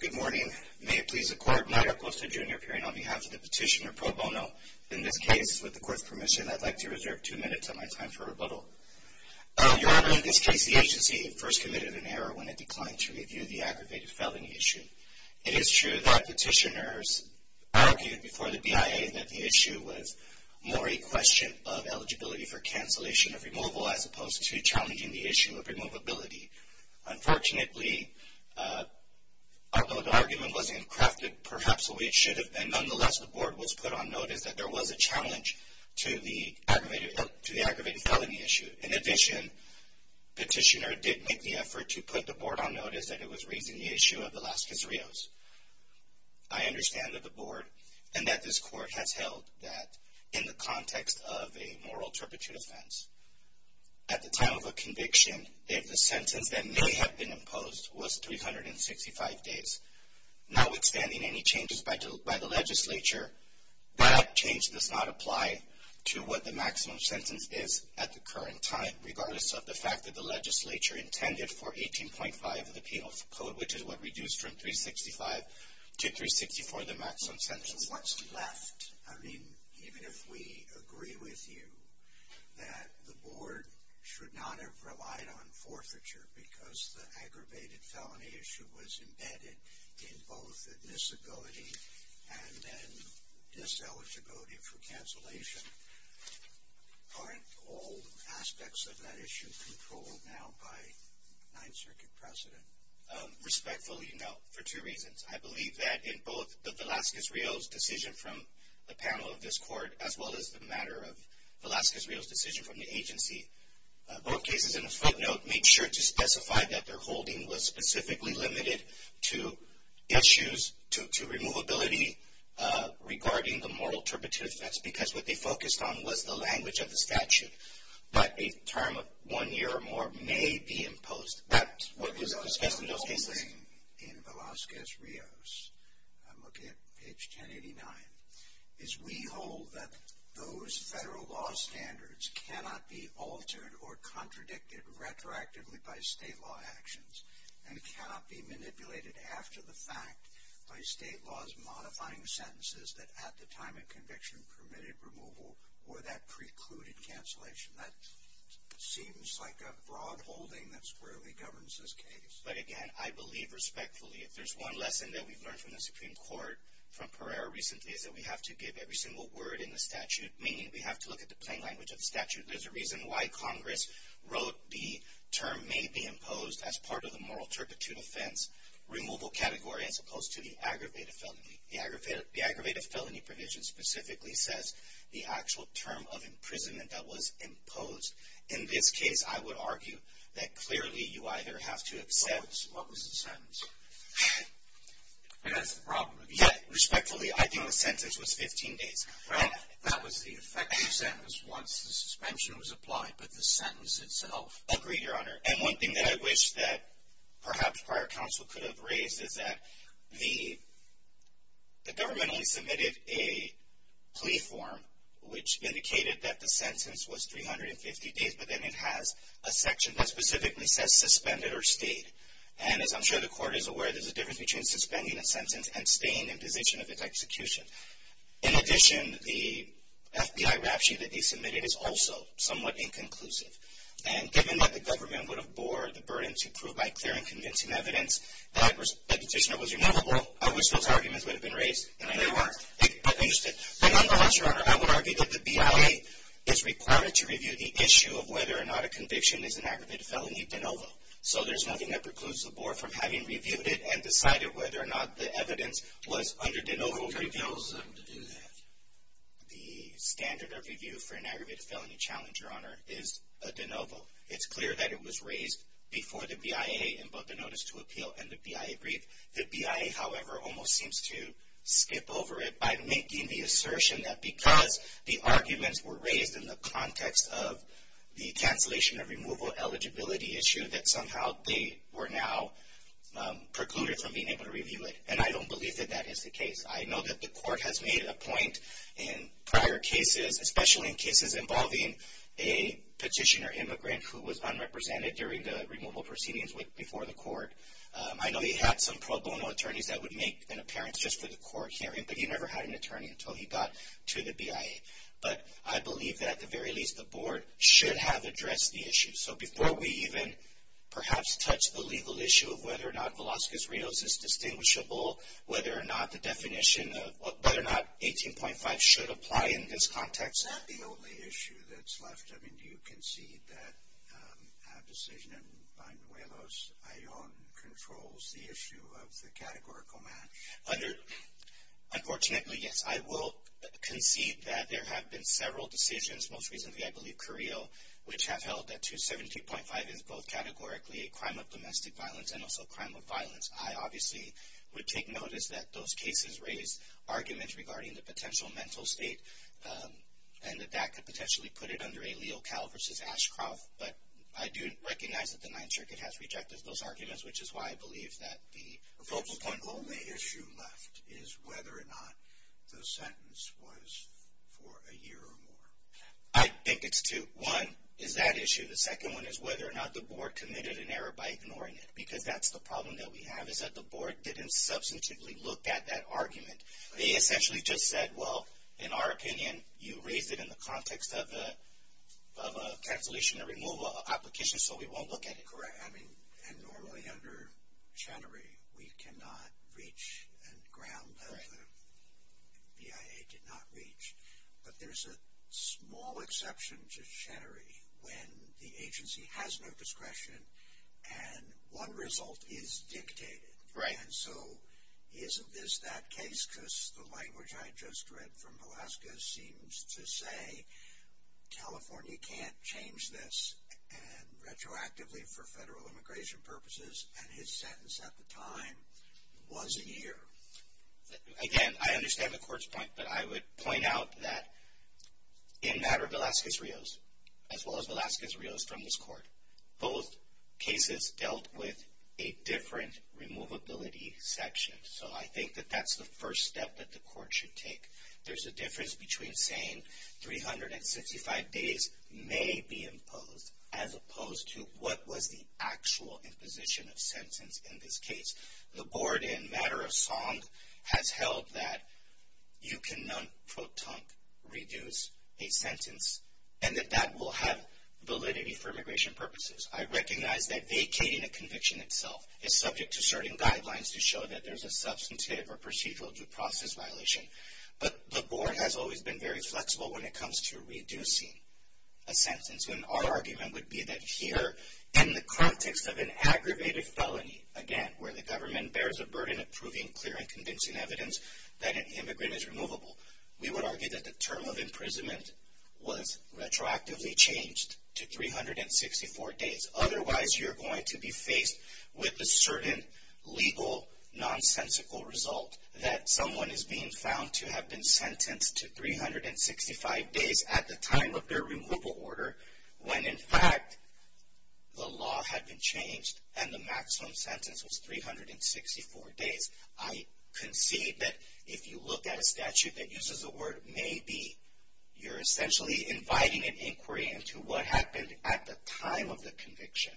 Good morning. May it please the Court, Mayor Acosta, Jr. appearing on behalf of the petitioner pro bono. In this case, with the Court's permission, I'd like to reserve two minutes of my time for rebuttal. Your Honor, in this case, the agency first committed an error when it declined to review the aggravated felony issue. It is true that petitioners argued before the removal as opposed to challenging the issue of removability. Unfortunately, although the argument wasn't crafted perhaps the way it should have been, nonetheless, the Board was put on notice that there was a challenge to the aggravated felony issue. In addition, petitioner did make the effort to put the Board on notice that it was raising the issue of the Las Casarillas. I understand that the Board and that this Court has held that in the context of a moral turpitude offense. At the time of a conviction, if the sentence that may have been imposed was 365 days, notwithstanding any changes by the legislature, that change does not apply to what the maximum sentence is at the current time, regardless of the fact that the legislature intended for 18.5 of the Penal Code, which is what reduced from I agree with you that the Board should not have relied on forfeiture because the aggravated felony issue was embedded in both admissibility and then diseligibility for cancellation. Aren't all aspects of that issue controlled now by Ninth Circuit precedent? Respectfully, no, for two reasons. I believe that in both the Velazquez-Rios decision from the panel of this Court, as well as the matter of Velazquez-Rios decision from the agency, both cases in the footnote made sure to specify that their holding was specifically limited to issues, to removability regarding the moral turpitude offense because what they focused on was the language of the statute. But a term of one year or more may be imposed. That is, we hold that those federal law standards cannot be altered or contradicted retroactively by state law actions and cannot be manipulated after the fact by state laws modifying sentences that at the time of conviction permitted removal or that precluded cancellation. That seems like a broad holding that squarely governs this case. But again, I believe respectfully, if there's one lesson that we've learned from the Supreme Court, every single word in the statute, meaning we have to look at the plain language of the statute, there's a reason why Congress wrote the term may be imposed as part of the moral turpitude offense removal category as opposed to the aggravated felony. The aggravated felony provision specifically says the actual term of imprisonment that was imposed. In this case, I would argue that clearly you either have to have said... What was the sentence? That's the problem. Respectfully, I think the sentence was 15 days. That was the effective sentence once the suspension was applied, but the sentence itself... Agreed, Your Honor. And one thing that I wish that perhaps prior counsel could have raised is that the government only submitted a plea form which indicated that the sentence was 350 days, but then it has a section that specifically says suspended or stayed. And as I'm sure the court is aware, there's a difference between suspending a sentence and staying in position of its execution. In addition, the FBI rapture that they submitted is also somewhat inconclusive. And given that the government would have bore the burden to prove by clear and convincing evidence that the petitioner was removable, I wish those arguments would have been raised. They weren't. But, Your Honor, I would argue that the BIA is required to review the issue of whether or not a conviction is an aggravated felony de novo. So there's nothing that precludes the board from having reviewed it and decided whether or not the evidence was under de novo review. The standard of review for an aggravated felony challenge, Your Honor, is a de novo. It's clear that it was raised before the BIA in both the notice to appeal and the BIA brief. The BIA, however, almost seems to skip over it by making the assertion that because the arguments were raised in the context of the cancellation of removal eligibility issue that somehow they were now precluded from being able to review it. And I don't believe that that is the case. I know that the court has made a point in prior cases, especially in cases involving a petitioner immigrant who was unrepresented during the removal proceedings before the court. I know he had some pro bono attorneys that would make an appearance just for the court hearing, but he never had an attorney until he got to the BIA. But I believe that, at the very least, the board should have addressed the issue. So before we even perhaps touch the legal issue of whether or not Velazquez-Rios is distinguishable, whether or not the definition of whether or not 18.5 should apply in this context. Is that the only issue that's left? I mean, do you concede that a decision in Banuelos Ajon controls the issue of the categorical match? Unfortunately, yes. I will concede that there have been several decisions, most recently I believe Carrillo, which have held that 17.5 is both categorically a crime of domestic violence and also a crime of violence. I obviously would take notice that those cases raise arguments regarding the potential mental state and that that could potentially put it under a Leo Cal versus Ashcroft. But I do recognize that the Ninth Circuit has rejected those arguments, which is why I believe that the focal point. The only issue left is whether or not the sentence was for a year or more. I think it's two. One is that issue. The second one is whether or not the board committed an error by ignoring it, because that's the problem that we have is that the board didn't substantively look at that argument. They essentially just said, well, in our opinion, you raised it in the context of a cancellation or removal application, so we won't look at it. Correct. I mean, and normally under Chenery, we cannot reach and ground that the BIA did not reach, but there's a small exception to Chenery when the agency has no discretion and one result is dictated. And so isn't this that case? Because the language I just read from Alaska seems to say, California can't change this retroactively for federal immigration purposes, and his sentence at the time was a year. Again, I understand the court's point, but I would point out that in the matter of Velazquez-Rios, as well as Velazquez-Rios from this court, both cases dealt with a different removability section. So I think that that's the first step that the court should take. There's a difference between saying 365 days may be imposed as opposed to what was the wrong has held that you cannot, quote, reduce a sentence, and that that will have validity for immigration purposes. I recognize that vacating a conviction itself is subject to certain guidelines to show that there's a substantive or procedural due process violation, but the board has always been very flexible when it comes to reducing a sentence. And our argument would be that here, in the context of an aggravated felony, again, where the government bears a burden of proving clear and convincing evidence that an immigrant is removable, we would argue that the term of imprisonment was retroactively changed to 364 days. Otherwise, you're going to be faced with a certain legal, nonsensical result that someone is being found to have been sentenced to 365 days at the time of their removal order when, in fact, the law had been changed and the maximum sentence was 364 days. I concede that if you look at a statute that uses the word may be, you're essentially inviting an inquiry into what happened at the time of the conviction.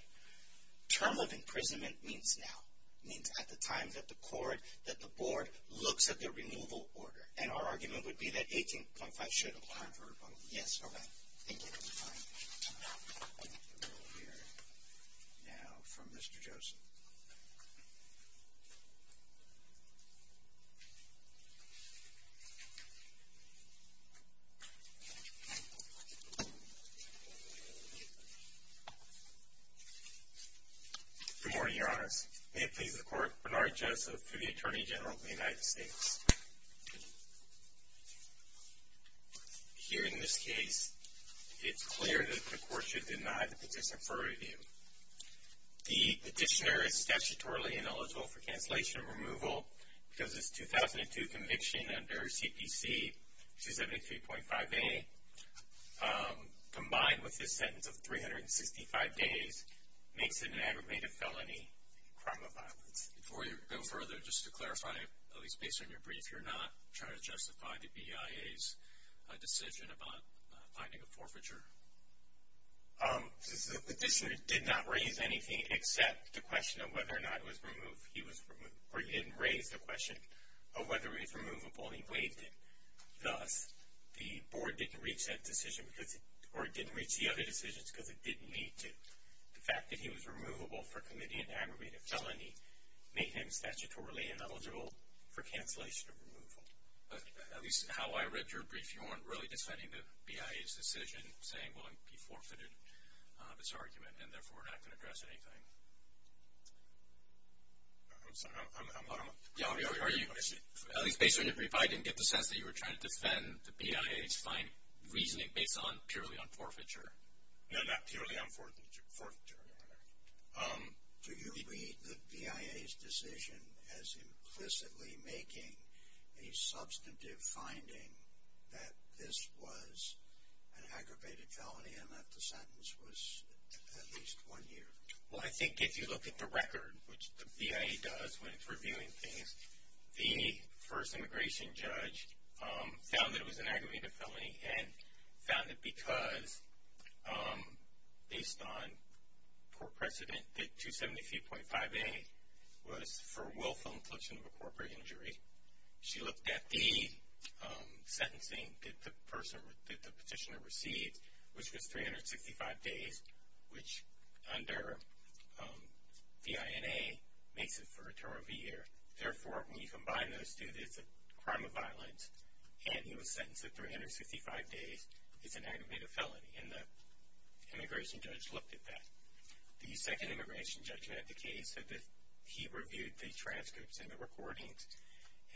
Term of imprisonment means now. It means at the time that the board looks at the removal order. And our argument would be that 16.5 should apply for removal. Yes. All right. Thank you. We'll hear now from Mr. Joseph. Good morning, Your Honors. May it please the Court, Bernard Joseph, the Attorney General of the United States. Here in this case, it's clear that the Court should deny the petition for review. The petitioner is statutorily ineligible for cancellation of removal because his 2002 conviction under CPC 273.5a, combined with his sentence of 365 days, makes it an aggravated felony crime of violence. Before you go further, just to clarify, at least based on your brief, you're not trying to justify the BIA's decision about finding a forfeiture? The petitioner did not raise anything except the question of whether or not it was removed. He didn't raise the question of whether it was removable. He waived it. Thus, the board didn't reach the other decisions because it didn't lead to the fact that he was an aggravated felony, making him statutorily ineligible for cancellation of removal. At least how I read your brief, you weren't really defending the BIA's decision, saying, well, he forfeited this argument, and therefore, we're not going to address anything. I'm sorry, I'm— Are you—at least based on your brief, I didn't get the sense that you were trying to defend the BIA's reasoning based purely on forfeiture. No, not purely on forfeiture, Your Honor. Do you read the BIA's decision as implicitly making a substantive finding that this was an aggravated felony and that the sentence was at least one year? Well, I think if you look at the record, which the BIA does when it's reviewing things, the first immigration judge found that it was an aggravated felony and found it because, based on court precedent, that 273.5A was for willful infliction of a corporate injury. She looked at the sentencing that the petitioner received, which was 365 days, which under the INA makes it for a term of a year. Therefore, when you combine those two, it's a crime of violence, and he was sentenced to 365 days. It's an aggravated felony, and the immigration judge looked at that. The second immigration judge who had the case said that he reviewed the transcripts and the recordings,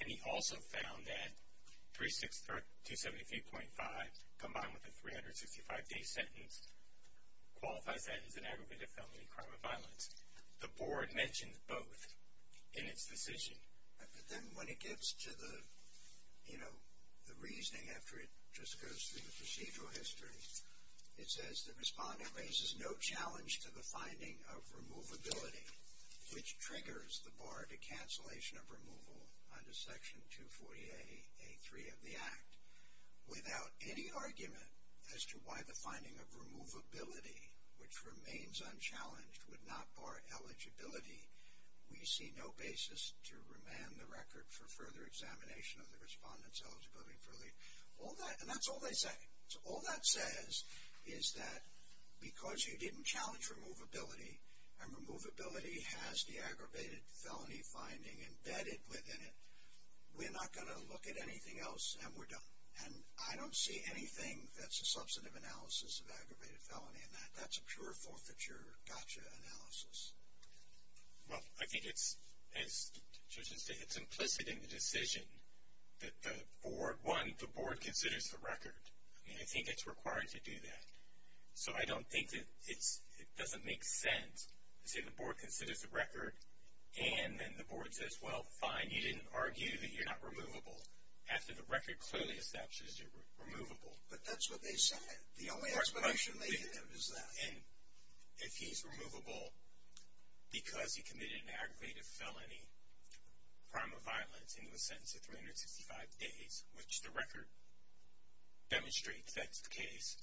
and he also found that 273.5, combined with the 365-day sentence, qualifies that as an aggravated felony, a crime of violence. The board mentioned both in its decision. But then when it gets to the reasoning after it just goes through the procedural history, it says the respondent raises no challenge to the finding of removability, which triggers the bar to cancellation of removal under Section 240A, A3 of the Act. Without any argument as to why the finding of removability, which remains unchallenged, would not bar eligibility, we see no basis to remand the record for further examination of the respondent's eligibility for leave. And that's all they say. So all that says is that because you didn't challenge removability, and removability has the aggravated felony finding embedded within it, we're not going to look at anything else, and we're done. And I don't see anything that's a substantive analysis of aggravated felony in that. That's a pure forfeiture gotcha analysis. Well, I think it's, as Joseph said, it's implicit in the decision that the board, one, the board considers the record. I mean, I think it's required to do that. So I don't think that it doesn't make sense to say the board considers the record and then the board says, well, fine, you didn't argue that you're not removable after the record clearly establishes you're removable. But that's what they said. The only explanation they had was that. And if he's removable because he committed an aggravated felony, crime of violence, and he was sentenced to 365 days, which the record demonstrates that's the case,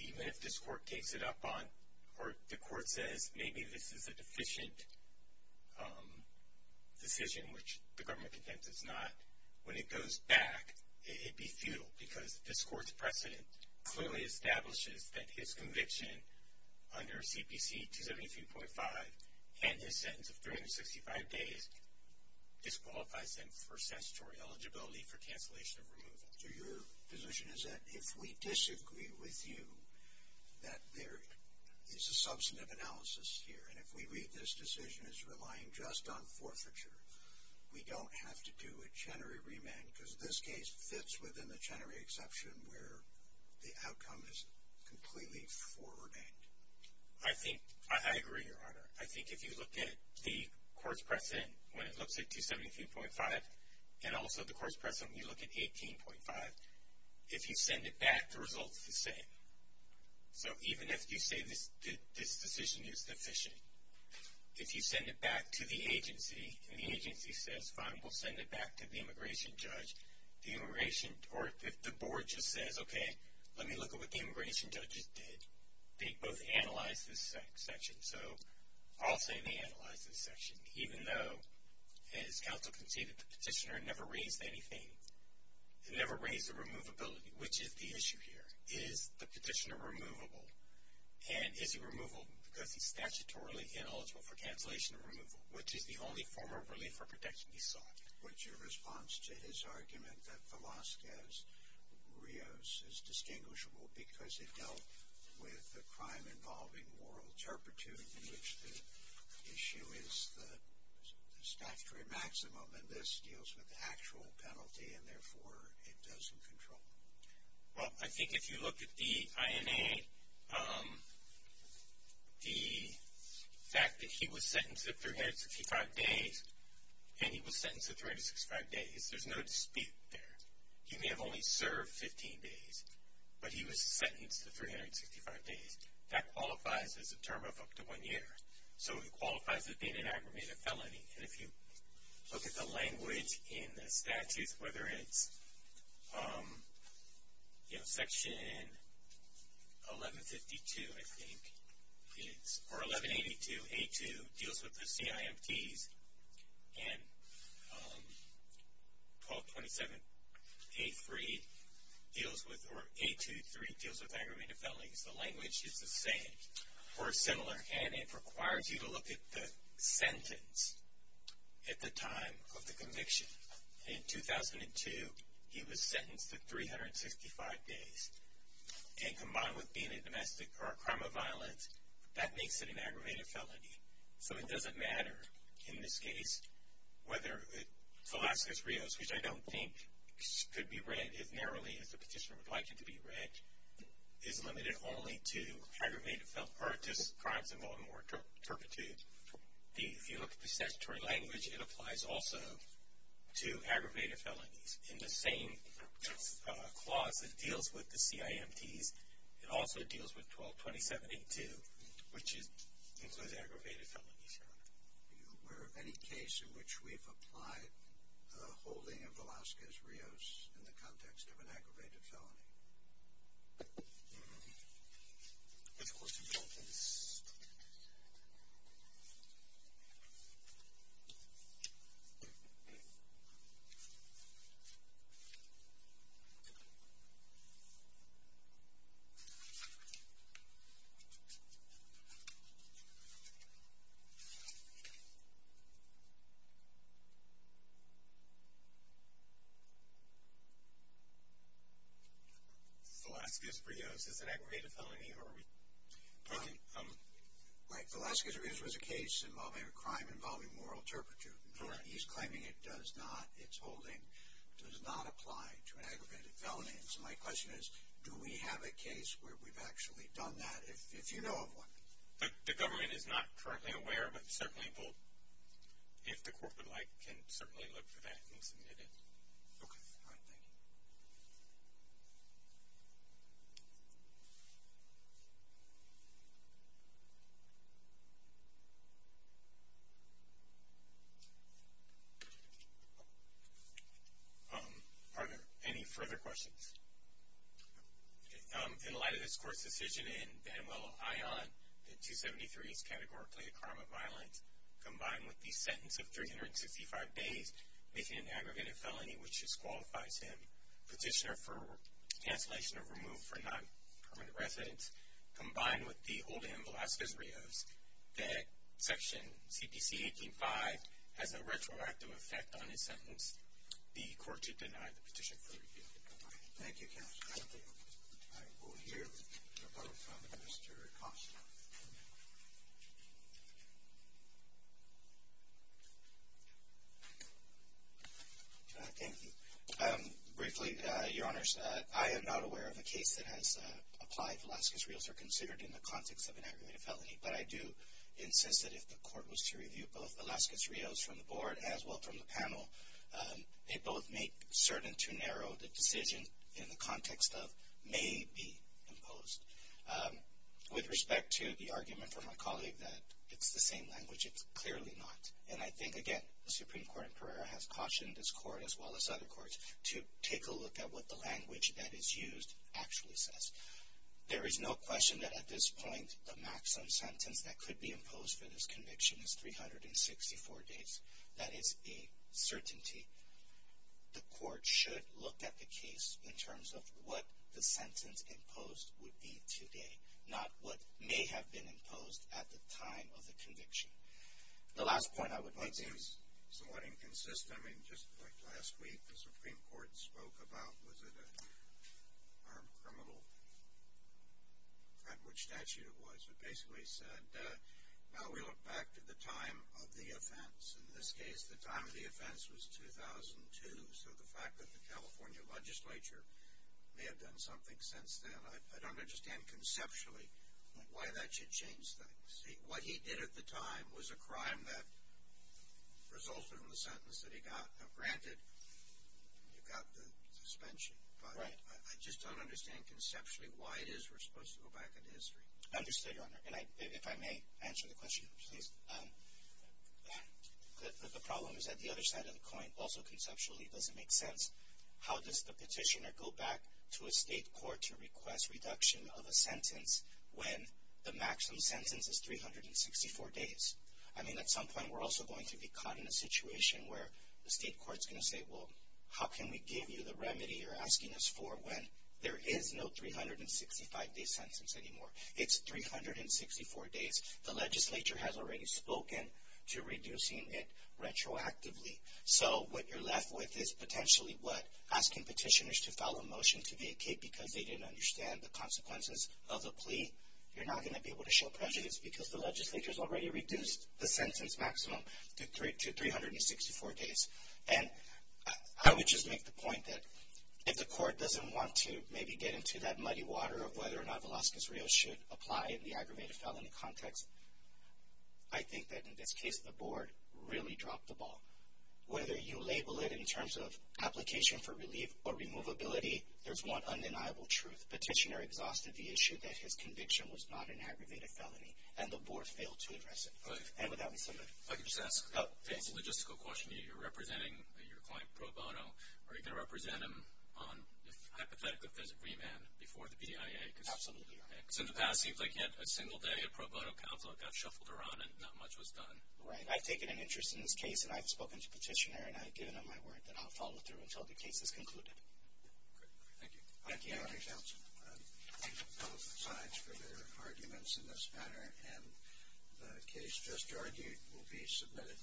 even if this court takes it up on or the court says maybe this is a deficient decision, which the government contends it's not, when it goes back, it'd be futile because this court's precedent clearly establishes that his conviction under CPC 273.5 and his sentence of 365 days disqualifies him for statutory eligibility for cancellation of removal. So your position is that if we disagree with you, that there is a substantive analysis here. And if we read this decision as relying just on forfeiture, we don't have to do a Chenery remand because this case fits within the Chenery exception where the outcome is completely foreordained. I agree, Your Honor. I think if you look at the court's precedent when it looks at 273.5 and also the court's precedent when you look at 18.5, if you send it back, the result is the same. So even if you say this decision is deficient, if you send it back to the agency and the agency says, fine, we'll send it back to the immigration judge, the immigration or if the board just says, okay, let me look at what the immigration judges did. They both analyzed this section. So I'll say they analyzed this section, even though, as counsel can see, the petitioner never raised anything, never raised the removability, which is the issue here. Is the petitioner removable? And is he removable because he's statutorily ineligible for cancellation of removal, which is the only form of relief or protection he sought? What's your response to his argument that Velazquez-Rios is distinguishable because it dealt with a crime involving moral turpitude in which the issue is the statutory maximum and this deals with the actual penalty and, therefore, it doesn't control it? Well, I think if you look at the INA, the fact that he was sentenced to 365 days and he was sentenced to 365 days, there's no dispute there. He may have only served 15 days, but he was sentenced to 365 days. That qualifies as a term of up to one year. So it qualifies as being an aggravated felony. And if you look at the language in the statute, whether it's, you know, Section 1152, I think, or 1182A2 deals with the CIMTs and 1227A3 deals with, or A23 deals with aggravated felonies. The language is the same or similar. And it requires you to look at the sentence at the time of the conviction. In 2002, he was sentenced to 365 days. And combined with being a domestic or a crime of violence, that makes it an aggravated felony. So it doesn't matter in this case whether Velazquez-Rios, which I don't think could be read as narrowly as the petitioner would like it to be read, is limited only to aggravated felonies or just crimes involving moral turpitude. If you look at the statutory language, it applies also to aggravated felonies. In the same clause, it deals with the CIMTs. It also deals with 1227A2, which includes aggravated felonies. Are you aware of any case in which we've applied the holding of Velazquez-Rios in the context of an aggravated felony? Let's go to the documents. Velazquez-Rios is an aggravated felony? Right, Velazquez-Rios was a case involving a crime involving moral turpitude. He's claiming it does not, its holding does not apply to an aggravated felony. And so my question is, do we have a case where we've actually done that? If you know of one. The government is not currently aware, but certainly if the court would like, can certainly look for that and submit it. Okay, all right, thank you. Are there any further questions? In light of this court's decision in Van Wille ION, the 273 is categorically a crime of violence combined with the sentence of 365 days, making it an aggravated felony, which disqualifies him. Petitioner for cancellation of removal for non-permanent residence, combined with the holding of Velazquez-Rios, that section CPC-18-5 has a retroactive effect on his sentence. The court should deny the petition for review. Thank you, counsel. I will hear the report from Mr. Acosta. Thank you. Briefly, Your Honors, I am not aware of a case that has applied Velazquez-Rios or considered in the context of an aggravated felony, but I do insist that if the court was to review both Velazquez-Rios from the board as well from the panel, they both make certain to narrow the decision in the context of may be imposed. With respect to the argument from my colleague that it's the same language, it's clearly not. And I think, again, the Supreme Court in Pereira has cautioned this court, as well as other courts, to take a look at what the language that is used actually says. There is no question that at this point the maximum sentence that could be imposed for this conviction is 364 days. That is a certainty. The court should look at the case in terms of what the sentence imposed would be today, not what may have been imposed at the time of the conviction. The last point I would make is somewhat inconsistent. I mean, just like last week, the Supreme Court spoke about, was it an armed criminal? At which statute it was. It basically said, well, we look back to the time of the offense. In this case, the time of the offense was 2002, so the fact that the California legislature may have done something since then, I don't understand conceptually why that should change things. What he did at the time was a crime that resulted in the sentence that he got. Now, granted, you got the suspension, but I just don't understand conceptually why it is we're supposed to go back into history. I understand, Your Honor, and if I may answer the question, please. The problem is that the other side of the coin, also conceptually, doesn't make sense. How does the petitioner go back to a state court to request reduction of a sentence when the maximum sentence is 364 days? I mean, at some point we're also going to be caught in a situation where the state court is going to say, well, how can we give you the remedy you're asking us for when there is no 365-day sentence anymore? It's 364 days. The legislature has already spoken to reducing it retroactively. So what you're left with is potentially what? Asking petitioners to file a motion to vacate because they didn't understand the consequences of the plea? You're not going to be able to show prejudice because the legislature has already reduced the sentence maximum to 364 days. I would just make the point that if the court doesn't want to maybe get into that muddy water of whether or not Velazquez-Rios should apply in the aggravated felony context, I think that in this case the board really dropped the ball. Whether you label it in terms of application for relief or removability, there's one undeniable truth. The petitioner exhausted the issue that his conviction was not an aggravated felony, and the board failed to address it. If I could just ask a logistical question. You're representing your client pro bono. Are you going to represent him on hypothetical remand before the BIA? Absolutely. Because in the past it seems like yet a single day a pro bono conflict got shuffled around and not much was done. Right. I've taken an interest in this case, and I've spoken to the petitioner, and I've given him my word that I'll follow through until the case is concluded. Great. Thank you. Thank you, Attorney General. I thank both sides for their arguments in this matter, and the case just argued will be submitted.